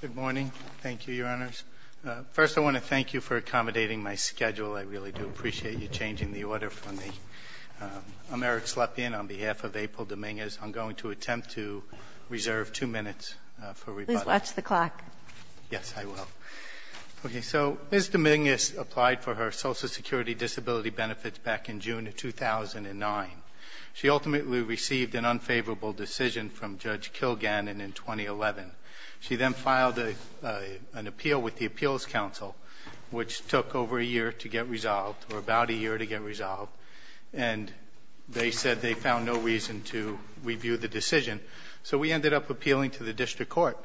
Good morning. Thank you, Your Honors. First, I want to thank you for accommodating my schedule. I really do appreciate you changing the order for me. I'm Eric Slepian. On behalf of April Dominguez, I'm going to attempt to reserve two minutes for rebuttal. Please watch the clock. Yes, I will. Okay. So, Ms. Dominguez applied for her Social Security disability benefits back in June of 2009. She ultimately received an unfavorable decision from Judge Kilgannon in 2011. She then filed an appeal with the Appeals Council, which took over a year to get resolved, or about a year to get resolved. And they said they found no reason to review the decision. So we ended up appealing to the District Court.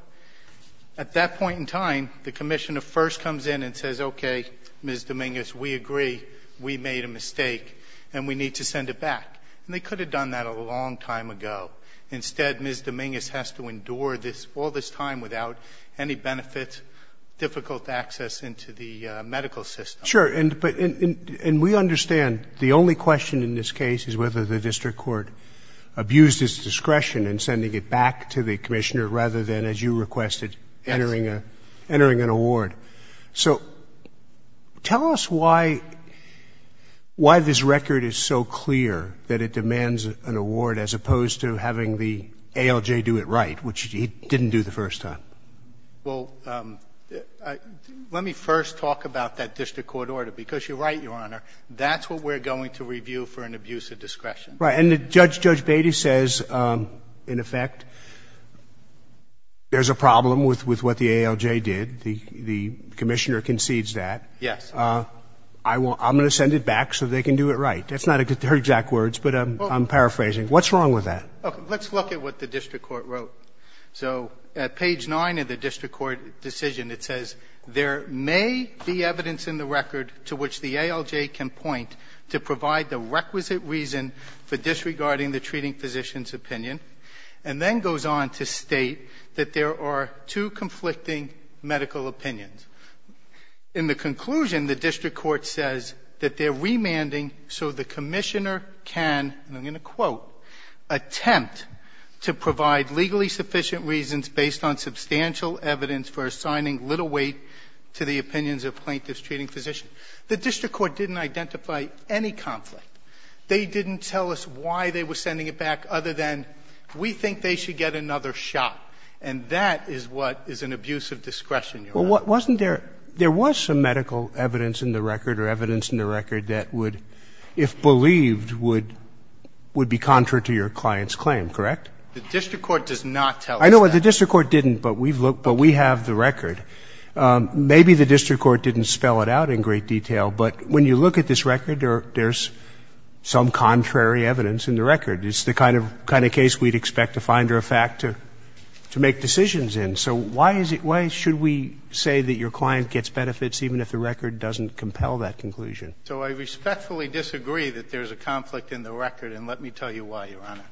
At that point in time, the Commissioner first comes in and says, okay, Ms. Dominguez, we agree, we made a mistake, and we need to send it back. And they could have done that a long time ago. Instead, Ms. Dominguez has to endure this, all this time, without any benefits, difficult access into the medical system. Sure. And we understand the only question in this case is whether the District Court abused its discretion in sending it back to the Commissioner rather than, as you requested, entering an award. So tell us why this record is so clear, that it demands an award, as opposed to having the ALJ do it right, which it didn't do the first time. Well, let me first talk about that District Court order. Because you're right, Your Honor, that's what we're going to review for an abuse of discretion. Right. And Judge Beatty says, in effect, there's a problem with what the ALJ did. The Commissioner concedes that. Yes. I'm going to send it back so they can do it right. That's not her exact words, but I'm paraphrasing. What's wrong with that? Okay. Let's look at what the District Court wrote. So at page 9 of the District Court decision, it says, ''There may be evidence in the record to which the ALJ can point to provide the requisite reason for disregarding the treating physician's opinion.'' In the conclusion, the District Court says that they're remanding so the Commissioner can, and I'm going to quote, ''attempt to provide legally sufficient reasons based on substantial evidence for assigning little weight to the opinions of plaintiffs treating physicians.'' The District Court didn't identify any conflict. They didn't tell us why they were sending it back, other than, we think they should get another shot. And that is what is an abuse of discretion, Your Honor. So wasn't there, there was some medical evidence in the record or evidence in the record that would, if believed, would be contrary to your client's claim, correct? The District Court does not tell us that. I know. The District Court didn't, but we've looked, but we have the record. Maybe the District Court didn't spell it out in great detail, but when you look at this record, there's some contrary evidence in the record. It's the kind of case we'd expect a finder of fact to make decisions in. So why is it why should we say that your client gets benefits even if the record doesn't compel that conclusion? So I respectfully disagree that there's a conflict in the record, and let me tell you why, Your Honor.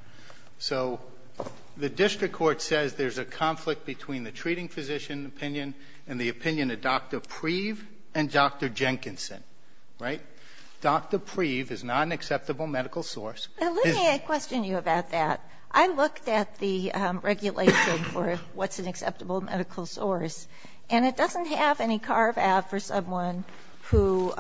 So the District Court says there's a conflict between the treating physician opinion and the opinion of Dr. Preeve and Dr. Jenkinson, right? Dr. Preeve is not an acceptable medical source. Now, let me question you about that. I looked at the regulation for what's an acceptable medical source, and it doesn't have any carve-out for someone who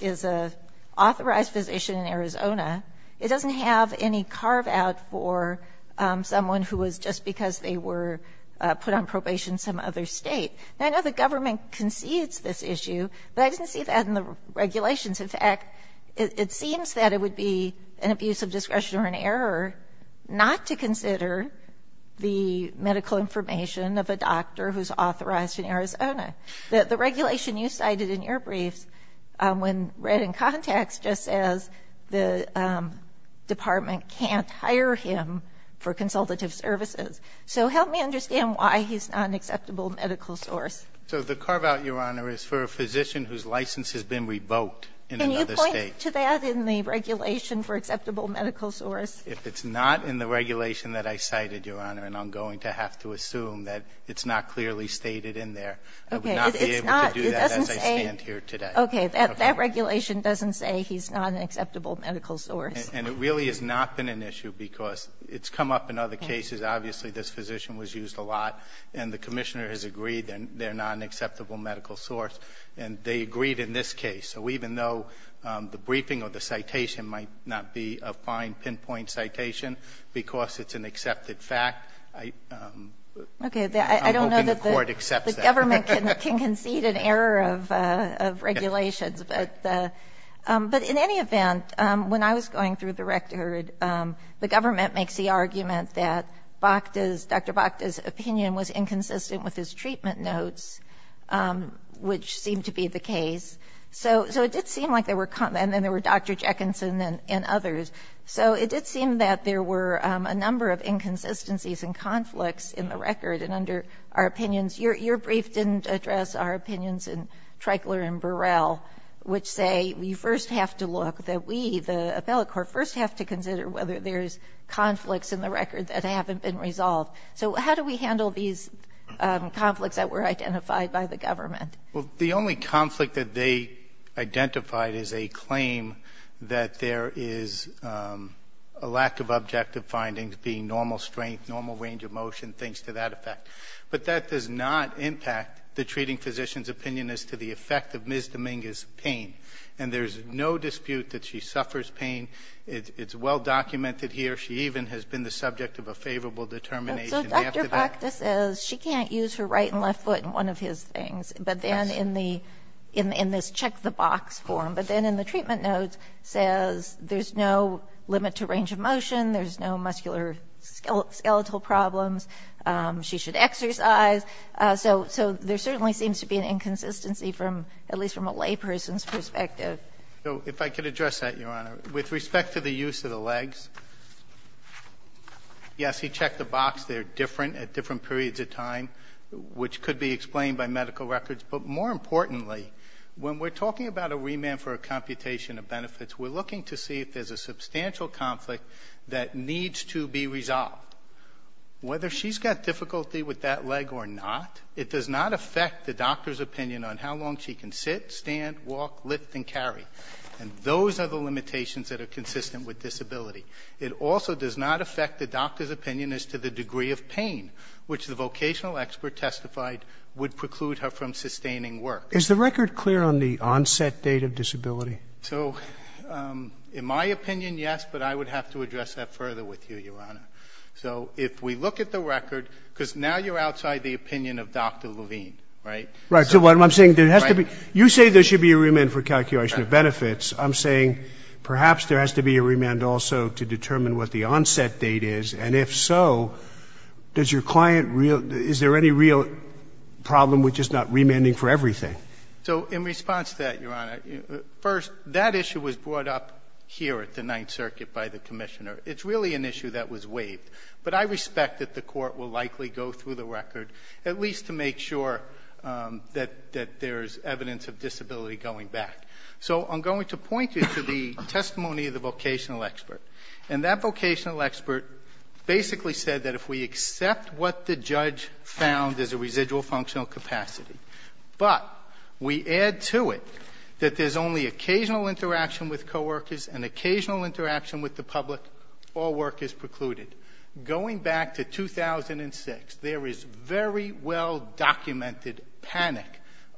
is an authorized physician in Arizona. It doesn't have any carve-out for someone who was just because they were put on probation in some other State. Now, I know the government concedes this issue, but I didn't see that in the regulations. In fact, it seems that it would be an abuse of discretion or an error not to consider the medical information of a doctor who's authorized in Arizona. The regulation you cited in your briefs, when read in context, just says the Department can't hire him for consultative services. So help me understand why he's not an acceptable medical source. So the carve-out, Your Honor, is for a physician whose license has been revoked in another State. Can you point to that in the regulation for acceptable medical source? If it's not in the regulation that I cited, Your Honor, then I'm going to have to assume that it's not clearly stated in there. I would not be able to do that as I stand here today. Okay. That regulation doesn't say he's not an acceptable medical source. And it really has not been an issue, because it's come up in other cases. Obviously, this physician was used a lot, and the Commissioner has agreed they're not an acceptable medical source. And they agreed in this case. So even though the briefing or the citation might not be a fine pinpoint citation, because it's an accepted fact, I'm hoping the Court accepts that. Okay. I don't know that the government can concede an error of regulations. But in any event, when I was going through the record, the government makes the argument that Dr. Bokda's opinion was inconsistent with his treatment notes, which seemed to be the case. So it did seem like there were, and then there were Dr. Jeckinson and others. So it did seem that there were a number of inconsistencies and conflicts in the record. And under our opinions, your brief didn't address our opinions in Treichler and Burrell, which say we first have to look, that we, the appellate court, first have to consider whether there's conflicts in the record that haven't been resolved. So how do we handle these conflicts that were identified by the government? Well, the only conflict that they identified is a claim that there is a lack of objective findings, being normal strength, normal range of motion, things to that effect. But that does not impact the treating physician's opinion as to the effect of Ms. Dominguez's pain. And there's no dispute that she suffers pain. It's well documented here. She even has been the subject of a favorable determination. So Dr. Bokda says she can't use her right and left foot in one of his things, but then in this check-the-box form. But then in the treatment notes, says there's no limit to range of motion, there's no muscular skeletal problems, she should exercise. So there certainly seems to be an inconsistency from, at least from a layperson's perspective. If I could address that, Your Honor. With respect to the use of the legs, yes, he checked the box. They're different at different periods of time, which could be explained by medical records. But more importantly, when we're talking about a remand for a computation of benefits, we're looking to see if there's a substantial conflict that needs to be resolved. Whether she's got difficulty with that leg or not, it does not affect the doctor's opinion on how long she can sit, stand, walk, lift and carry. And those are the limitations that are consistent with disability. It also does not affect the doctor's opinion as to the degree of pain, which the vocational expert testified would preclude her from sustaining work. Is the record clear on the onset date of disability? So in my opinion, yes, but I would have to address that further with you, Your Honor. So if we look at the record, because now you're outside the opinion of Dr. Levine, right? Right. So what I'm saying, there has to be you say there should be a remand for calculation of benefits. I'm saying perhaps there has to be a remand also to determine what the onset date is. And if so, does your client really is there any real problem with just not remanding for everything? So in response to that, Your Honor, first, that issue was brought up here at the Ninth Circuit by the Commissioner. It's really an issue that was waived. But I respect that the Court will likely go through the record, at least to make sure that there's evidence of disability going back. So I'm going to point you to the testimony of the vocational expert. And that vocational expert basically said that if we accept what the judge found as a residual functional capacity, but we add to it that there's only occasional interaction with co-workers and occasional interaction with the public, all work is precluded. Going back to 2006, there is very well documented panic,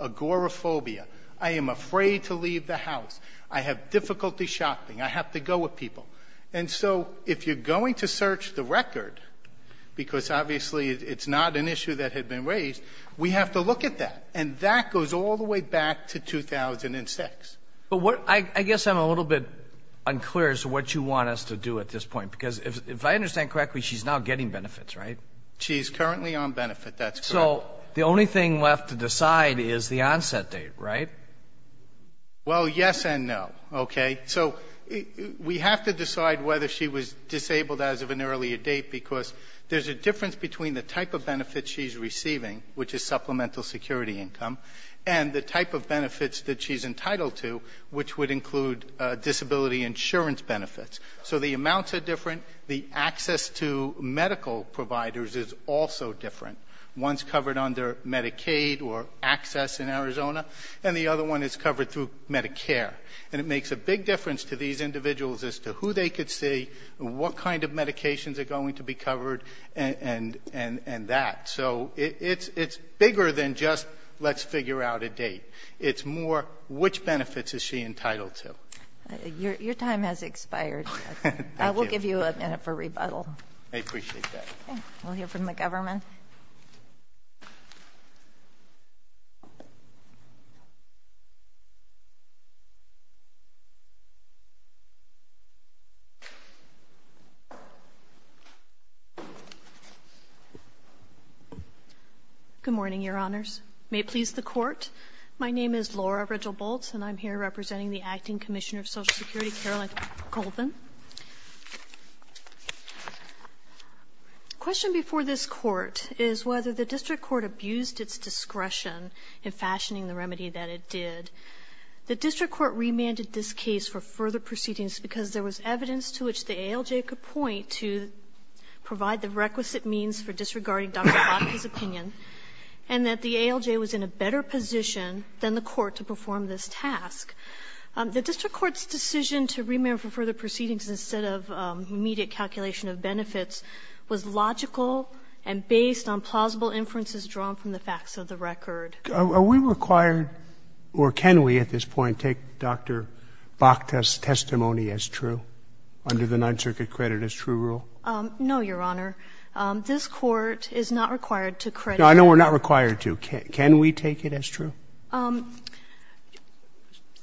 agoraphobia. I am afraid to leave the house. I have difficulty shopping. I have to go with people. And so if you're going to search the I have to look at that. And that goes all the way back to 2006. But what — I guess I'm a little bit unclear as to what you want us to do at this point. Because if I understand correctly, she's now getting benefits, right? She's currently on benefit. That's correct. So the only thing left to decide is the onset date, right? Well, yes and no. Okay? So we have to decide whether she was disabled as of an earlier date, because there's a difference between the type of benefit she's receiving, which is supplemental security income, and the type of benefits that she's entitled to, which would include disability insurance benefits. So the amounts are different. The access to medical providers is also different. One's covered under Medicaid or access in Arizona, and the other one is covered through Medicare. And it makes a big difference to these individuals as to who they could see, what kind of medications are going to be covered, and that. So it's bigger than just, let's figure out a date. It's more, which benefits is she entitled to? Your time has expired. Thank you. I will give you a minute for rebuttal. I appreciate that. Okay. We'll hear from the government. Good morning, Your Honors. May it please the Court, my name is Laura Rigel-Boltz, and I'm here representing the Acting Commissioner of Social Security, Carolyn Colvin. The question before this Court is whether the district court abused its discretion in fashioning the remedy that it did. The district court remanded this case for further proceedings because there was evidence to which the ALJ could point to provide the requisite means for disregarding Dr. Koticka's opinion, and that the ALJ was in a better position than the court to perform this task. The district court's decision to remand for further proceedings instead of immediate calculation of benefits was logical and based on plausible inferences drawn from the facts of the record. Are we required, or can we at this point, take Dr. Bakta's testimony as true, under the Ninth Circuit credit-as-true rule? No, Your Honor. This Court is not required to credit. No, I know we're not required to. Can we take it as true?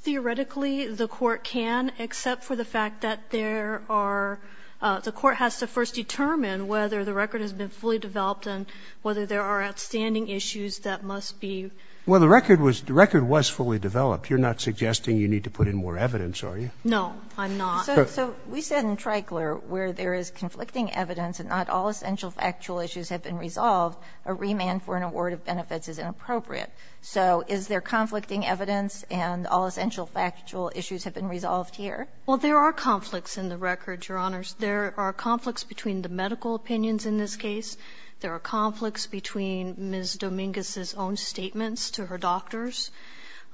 Theoretically, the Court can, except for the fact that there are the Court has to first determine whether the record has been fully developed and whether there are outstanding issues that must be. Well, the record was fully developed. You're not suggesting you need to put in more evidence, are you? No, I'm not. So we said in Treichler where there is conflicting evidence and not all essential factual issues have been resolved, a remand for an award of benefits is inappropriate. So is there conflicting evidence and all essential factual issues have been resolved here? Well, there are conflicts in the record, Your Honors. There are conflicts between the medical opinions in this case. There are conflicts between Ms. Dominguez's own statements to her doctors.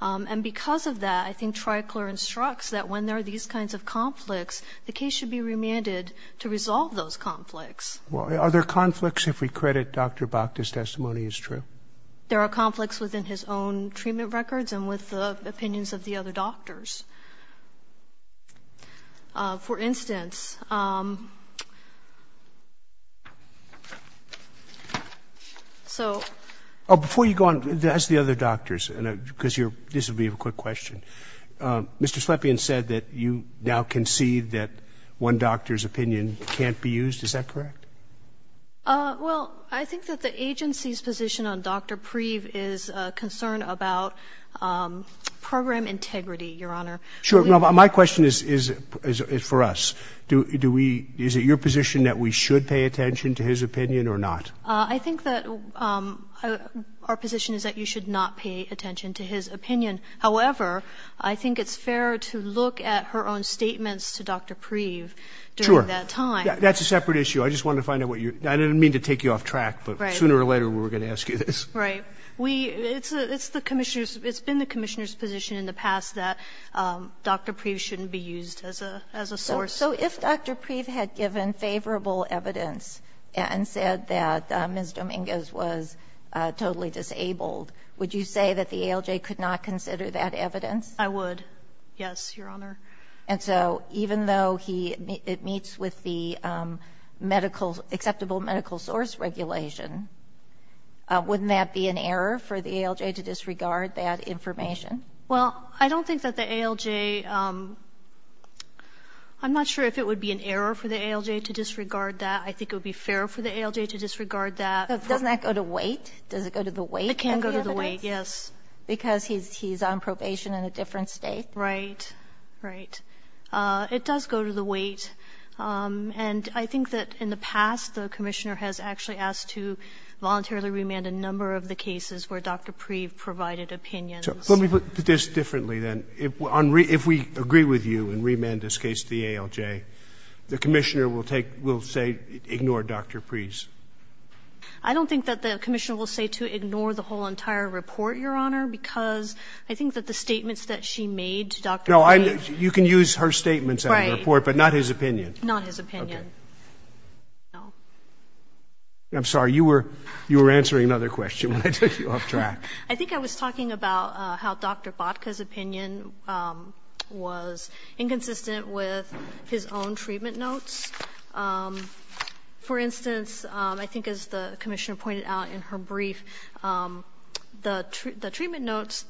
And because of that, I think Treichler instructs that when there are these kinds of conflicts, the case should be remanded to resolve those conflicts. Are there conflicts if we credit Dr. Bakta's testimony as true? There are conflicts within his own treatment records and with the opinions of the other doctors. For instance, so ---- Before you go on, ask the other doctors, because this will be a quick question. Mr. Slepian said that you now concede that one doctor's opinion can't be used. Is that correct? Well, I think that the agency's position on Dr. Preeve is a concern about program integrity, Your Honor. Sure. My question is for us. Do we ---- Is it your position that we should pay attention to his opinion or not? I think that our position is that you should not pay attention to his opinion. However, I think it's fair to look at her own statements to Dr. Preeve during that time. Sure. That's a separate issue. I just wanted to find out what you're ---- I didn't mean to take you off track, but sooner or later we were going to ask you this. Right. We ---- It's the Commissioner's ---- It's been the Commissioner's position in the past that Dr. Preeve shouldn't be used as a source. So if Dr. Preeve had given favorable evidence and said that Ms. Dominguez was totally disabled, would you say that the ALJ could not consider that evidence? I would, yes, Your Honor. And so even though he ---- it meets with the medical ---- acceptable medical source regulation, wouldn't that be an error for the ALJ to disregard that information? Well, I don't think that the ALJ ---- I'm not sure if it would be an error for the ALJ to disregard that. I think it would be fair for the ALJ to disregard that. Doesn't that go to weight? Does it go to the weight of the evidence? It can go to the weight, yes. Because he's on probation in a different State? Right. Right. It does go to the weight. And I think that in the past, the Commissioner has actually asked to voluntarily remand a number of the cases where Dr. Preeve provided opinions. So let me put this differently, then. If we agree with you and remand this case to the ALJ, the Commissioner will take ---- will say ignore Dr. Preeve's? I don't think that the Commissioner will say to ignore the whole entire report, you can use her statements out of the report, but not his opinion. Right. Not his opinion. No. I'm sorry. You were answering another question when I took you off track. I think I was talking about how Dr. Bodka's opinion was inconsistent with his own treatment notes. For instance, I think as the Commissioner pointed out in her brief, the treatment notes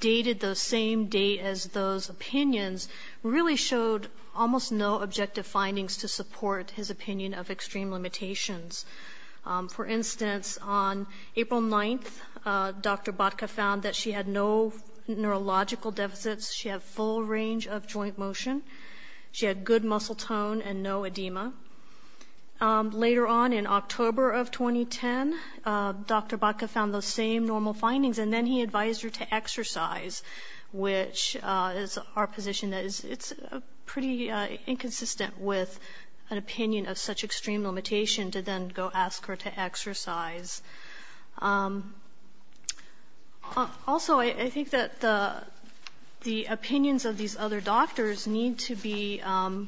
dated the same date as those opinions really showed almost no objective findings to support his opinion of extreme limitations. For instance, on April 9th, Dr. Bodka found that she had no neurological deficits. She had full range of joint motion. She had good muscle tone and no edema. Later on in October of 2010, Dr. Bodka found those same normal findings. And then he advised her to exercise, which is our position that it's pretty inconsistent with an opinion of such extreme limitation to then go ask her to exercise. Also, I think that the opinions of these other doctors need to be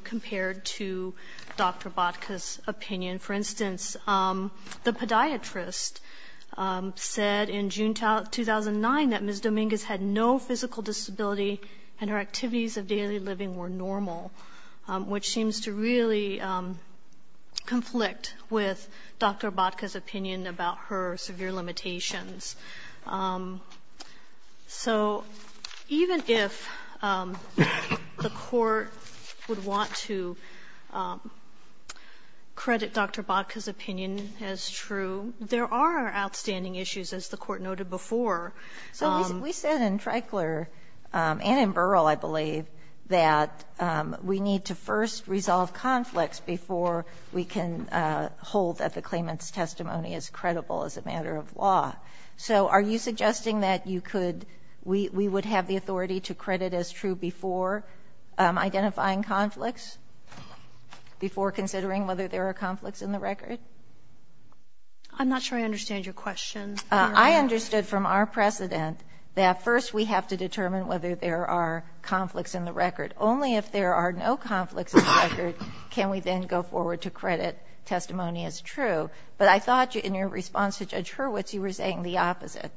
compared to Dr. Bodka's opinion. For instance, the podiatrist said in June 2009 that Ms. Dominguez had no physical disability and her activities of daily living were normal, which seems to really conflict with Dr. Bodka's opinion about her severe limitations. So even if the Court would want to credit Dr. Bodka's opinion, I don't think it's true. There are outstanding issues, as the Court noted before. So we said in Treichler and in Burrill, I believe, that we need to first resolve conflicts before we can hold that the claimant's testimony is credible as a matter of law. So are you suggesting that you could we would have the authority to credit as true before identifying conflicts, before considering whether there are conflicts in the record? I'm not sure I understand your question. I understood from our precedent that first we have to determine whether there are conflicts in the record. Only if there are no conflicts in the record can we then go forward to credit testimony as true. But I thought in your response to Judge Hurwitz, you were saying the opposite.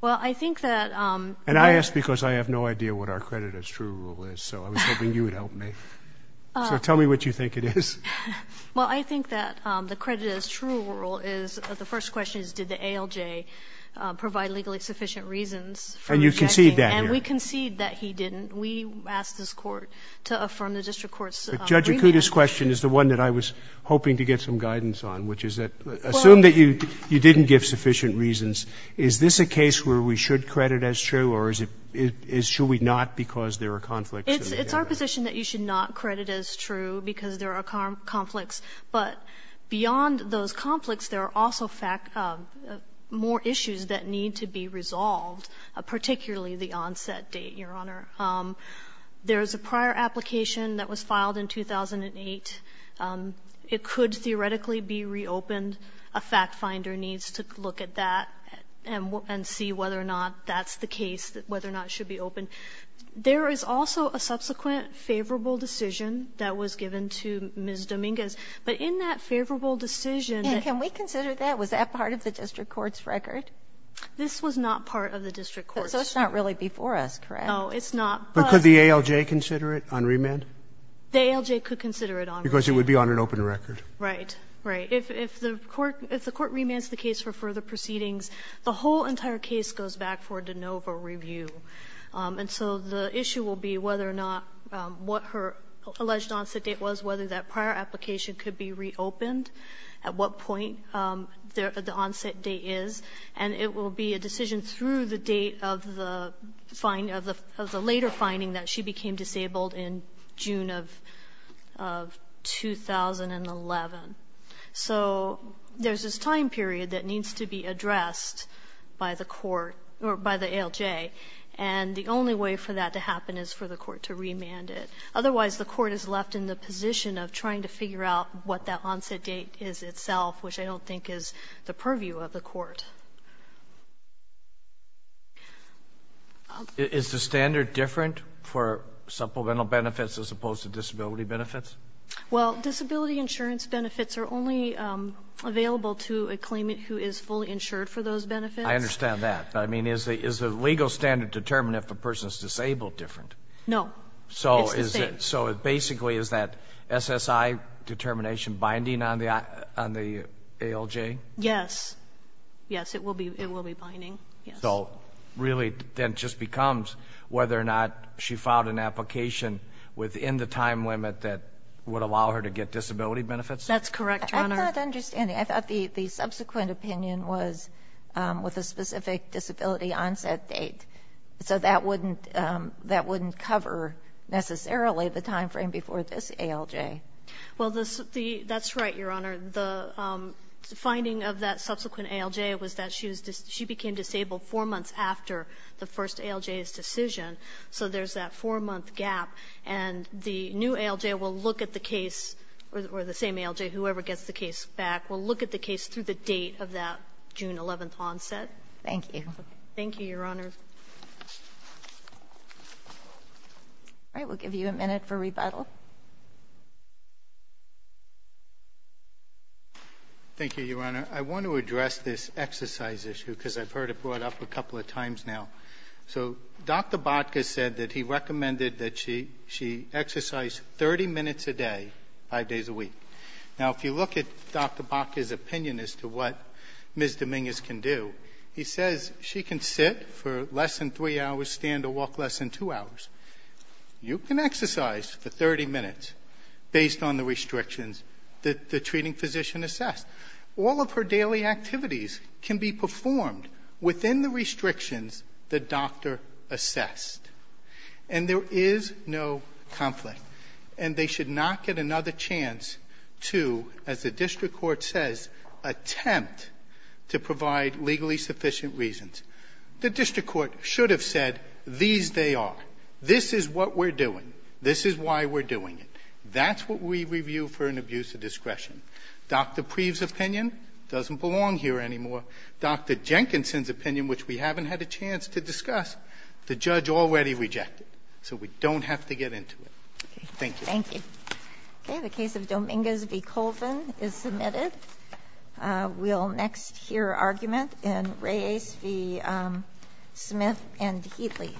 Well, I think that there's And I ask because I have no idea what our credit as true rule is. So I was hoping you would help me. So tell me what you think it is. Well, I think that the credit as true rule is, the first question is, did the ALJ provide legally sufficient reasons for rejecting? And you concede that here. And we concede that he didn't. We asked this Court to affirm the district court's agreement. But Judge Acuda's question is the one that I was hoping to get some guidance on, which is that, assume that you didn't give sufficient reasons, is this a case where we should credit as true, or is it should we not because there are conflicts in the record? It's our position that you should not credit as true because there are conflicts. But beyond those conflicts, there are also fact of more issues that need to be resolved, particularly the onset date, Your Honor. There is a prior application that was filed in 2008. It could theoretically be reopened. A fact finder needs to look at that and see whether or not that's the case, whether or not it should be opened. There is also a subsequent favorable decision that was given to Ms. Dominguez. But in that favorable decision that we considered that, was that part of the district court's record? This was not part of the district court's. So it's not really before us, correct? No, it's not. But could the ALJ consider it on remand? The ALJ could consider it on remand. Because it would be on an open record. Right. Right. If the court remands the case for further proceedings, the whole entire case goes back for de novo review. And so the issue will be whether or not what her alleged onset date was, whether that prior application could be reopened, at what point the onset date is. And it will be a decision through the date of the later finding that she became disabled in June of 2011. So there's this time period that needs to be addressed by the court or by the ALJ. And the only way for that to happen is for the court to remand it. Otherwise, the court is left in the position of trying to figure out what that onset date is itself, which I don't think is the purview of the court. Is the standard different for supplemental benefits as opposed to disability benefits? Well, disability insurance benefits are only available to a claimant who is fully insured for those benefits. I understand that. I mean, is the legal standard determined if a person is disabled different? No. It's the same. So basically, is that SSI determination binding on the ALJ? Yes. Yes, it will be binding. So really, then it just becomes whether or not she filed an application within the time limit that would allow her to get disability benefits? That's correct, Your Honor. I'm not understanding. I thought the subsequent opinion was with a specific disability onset date. So that wouldn't cover necessarily the time frame before this ALJ. Well, that's right, Your Honor. The finding of that subsequent ALJ was that she became disabled four months after the first ALJ's decision. So there's that four-month gap. And the new ALJ will look at the case, or the same ALJ, whoever gets the case back, will look at the case through the date of that June 11th onset. Thank you. Thank you, Your Honor. All right. We'll give you a minute for rebuttal. Thank you, Your Honor. I want to address this exercise issue, because I've heard it brought up a couple of times now. So Dr. Botka said that he recommended that she exercise 30 minutes a day, five days a week. Now, if you look at Dr. Botka's opinion as to what Ms. Dominguez can do, he says she can sit for less than three hours, stand or walk less than two hours. You can exercise for 30 minutes based on the restrictions that the treating physician assessed. All of her daily activities can be performed within the restrictions the doctor assessed. And there is no conflict. And they should not get another chance to, as the district court says, attempt to provide legally sufficient reasons. The district court should have said, these they are. This is what we're doing. This is why we're doing it. That's what we review for an abuse of discretion. Dr. Preeve's opinion doesn't belong here anymore. Dr. Jenkinson's opinion, which we haven't had a chance to discuss, the judge already rejected. So we don't have to get into it. Thank you. Thank you. Okay, the case of Dominguez v. Colvin is submitted. We'll next hear argument in Reyes v. Smith and Heatley.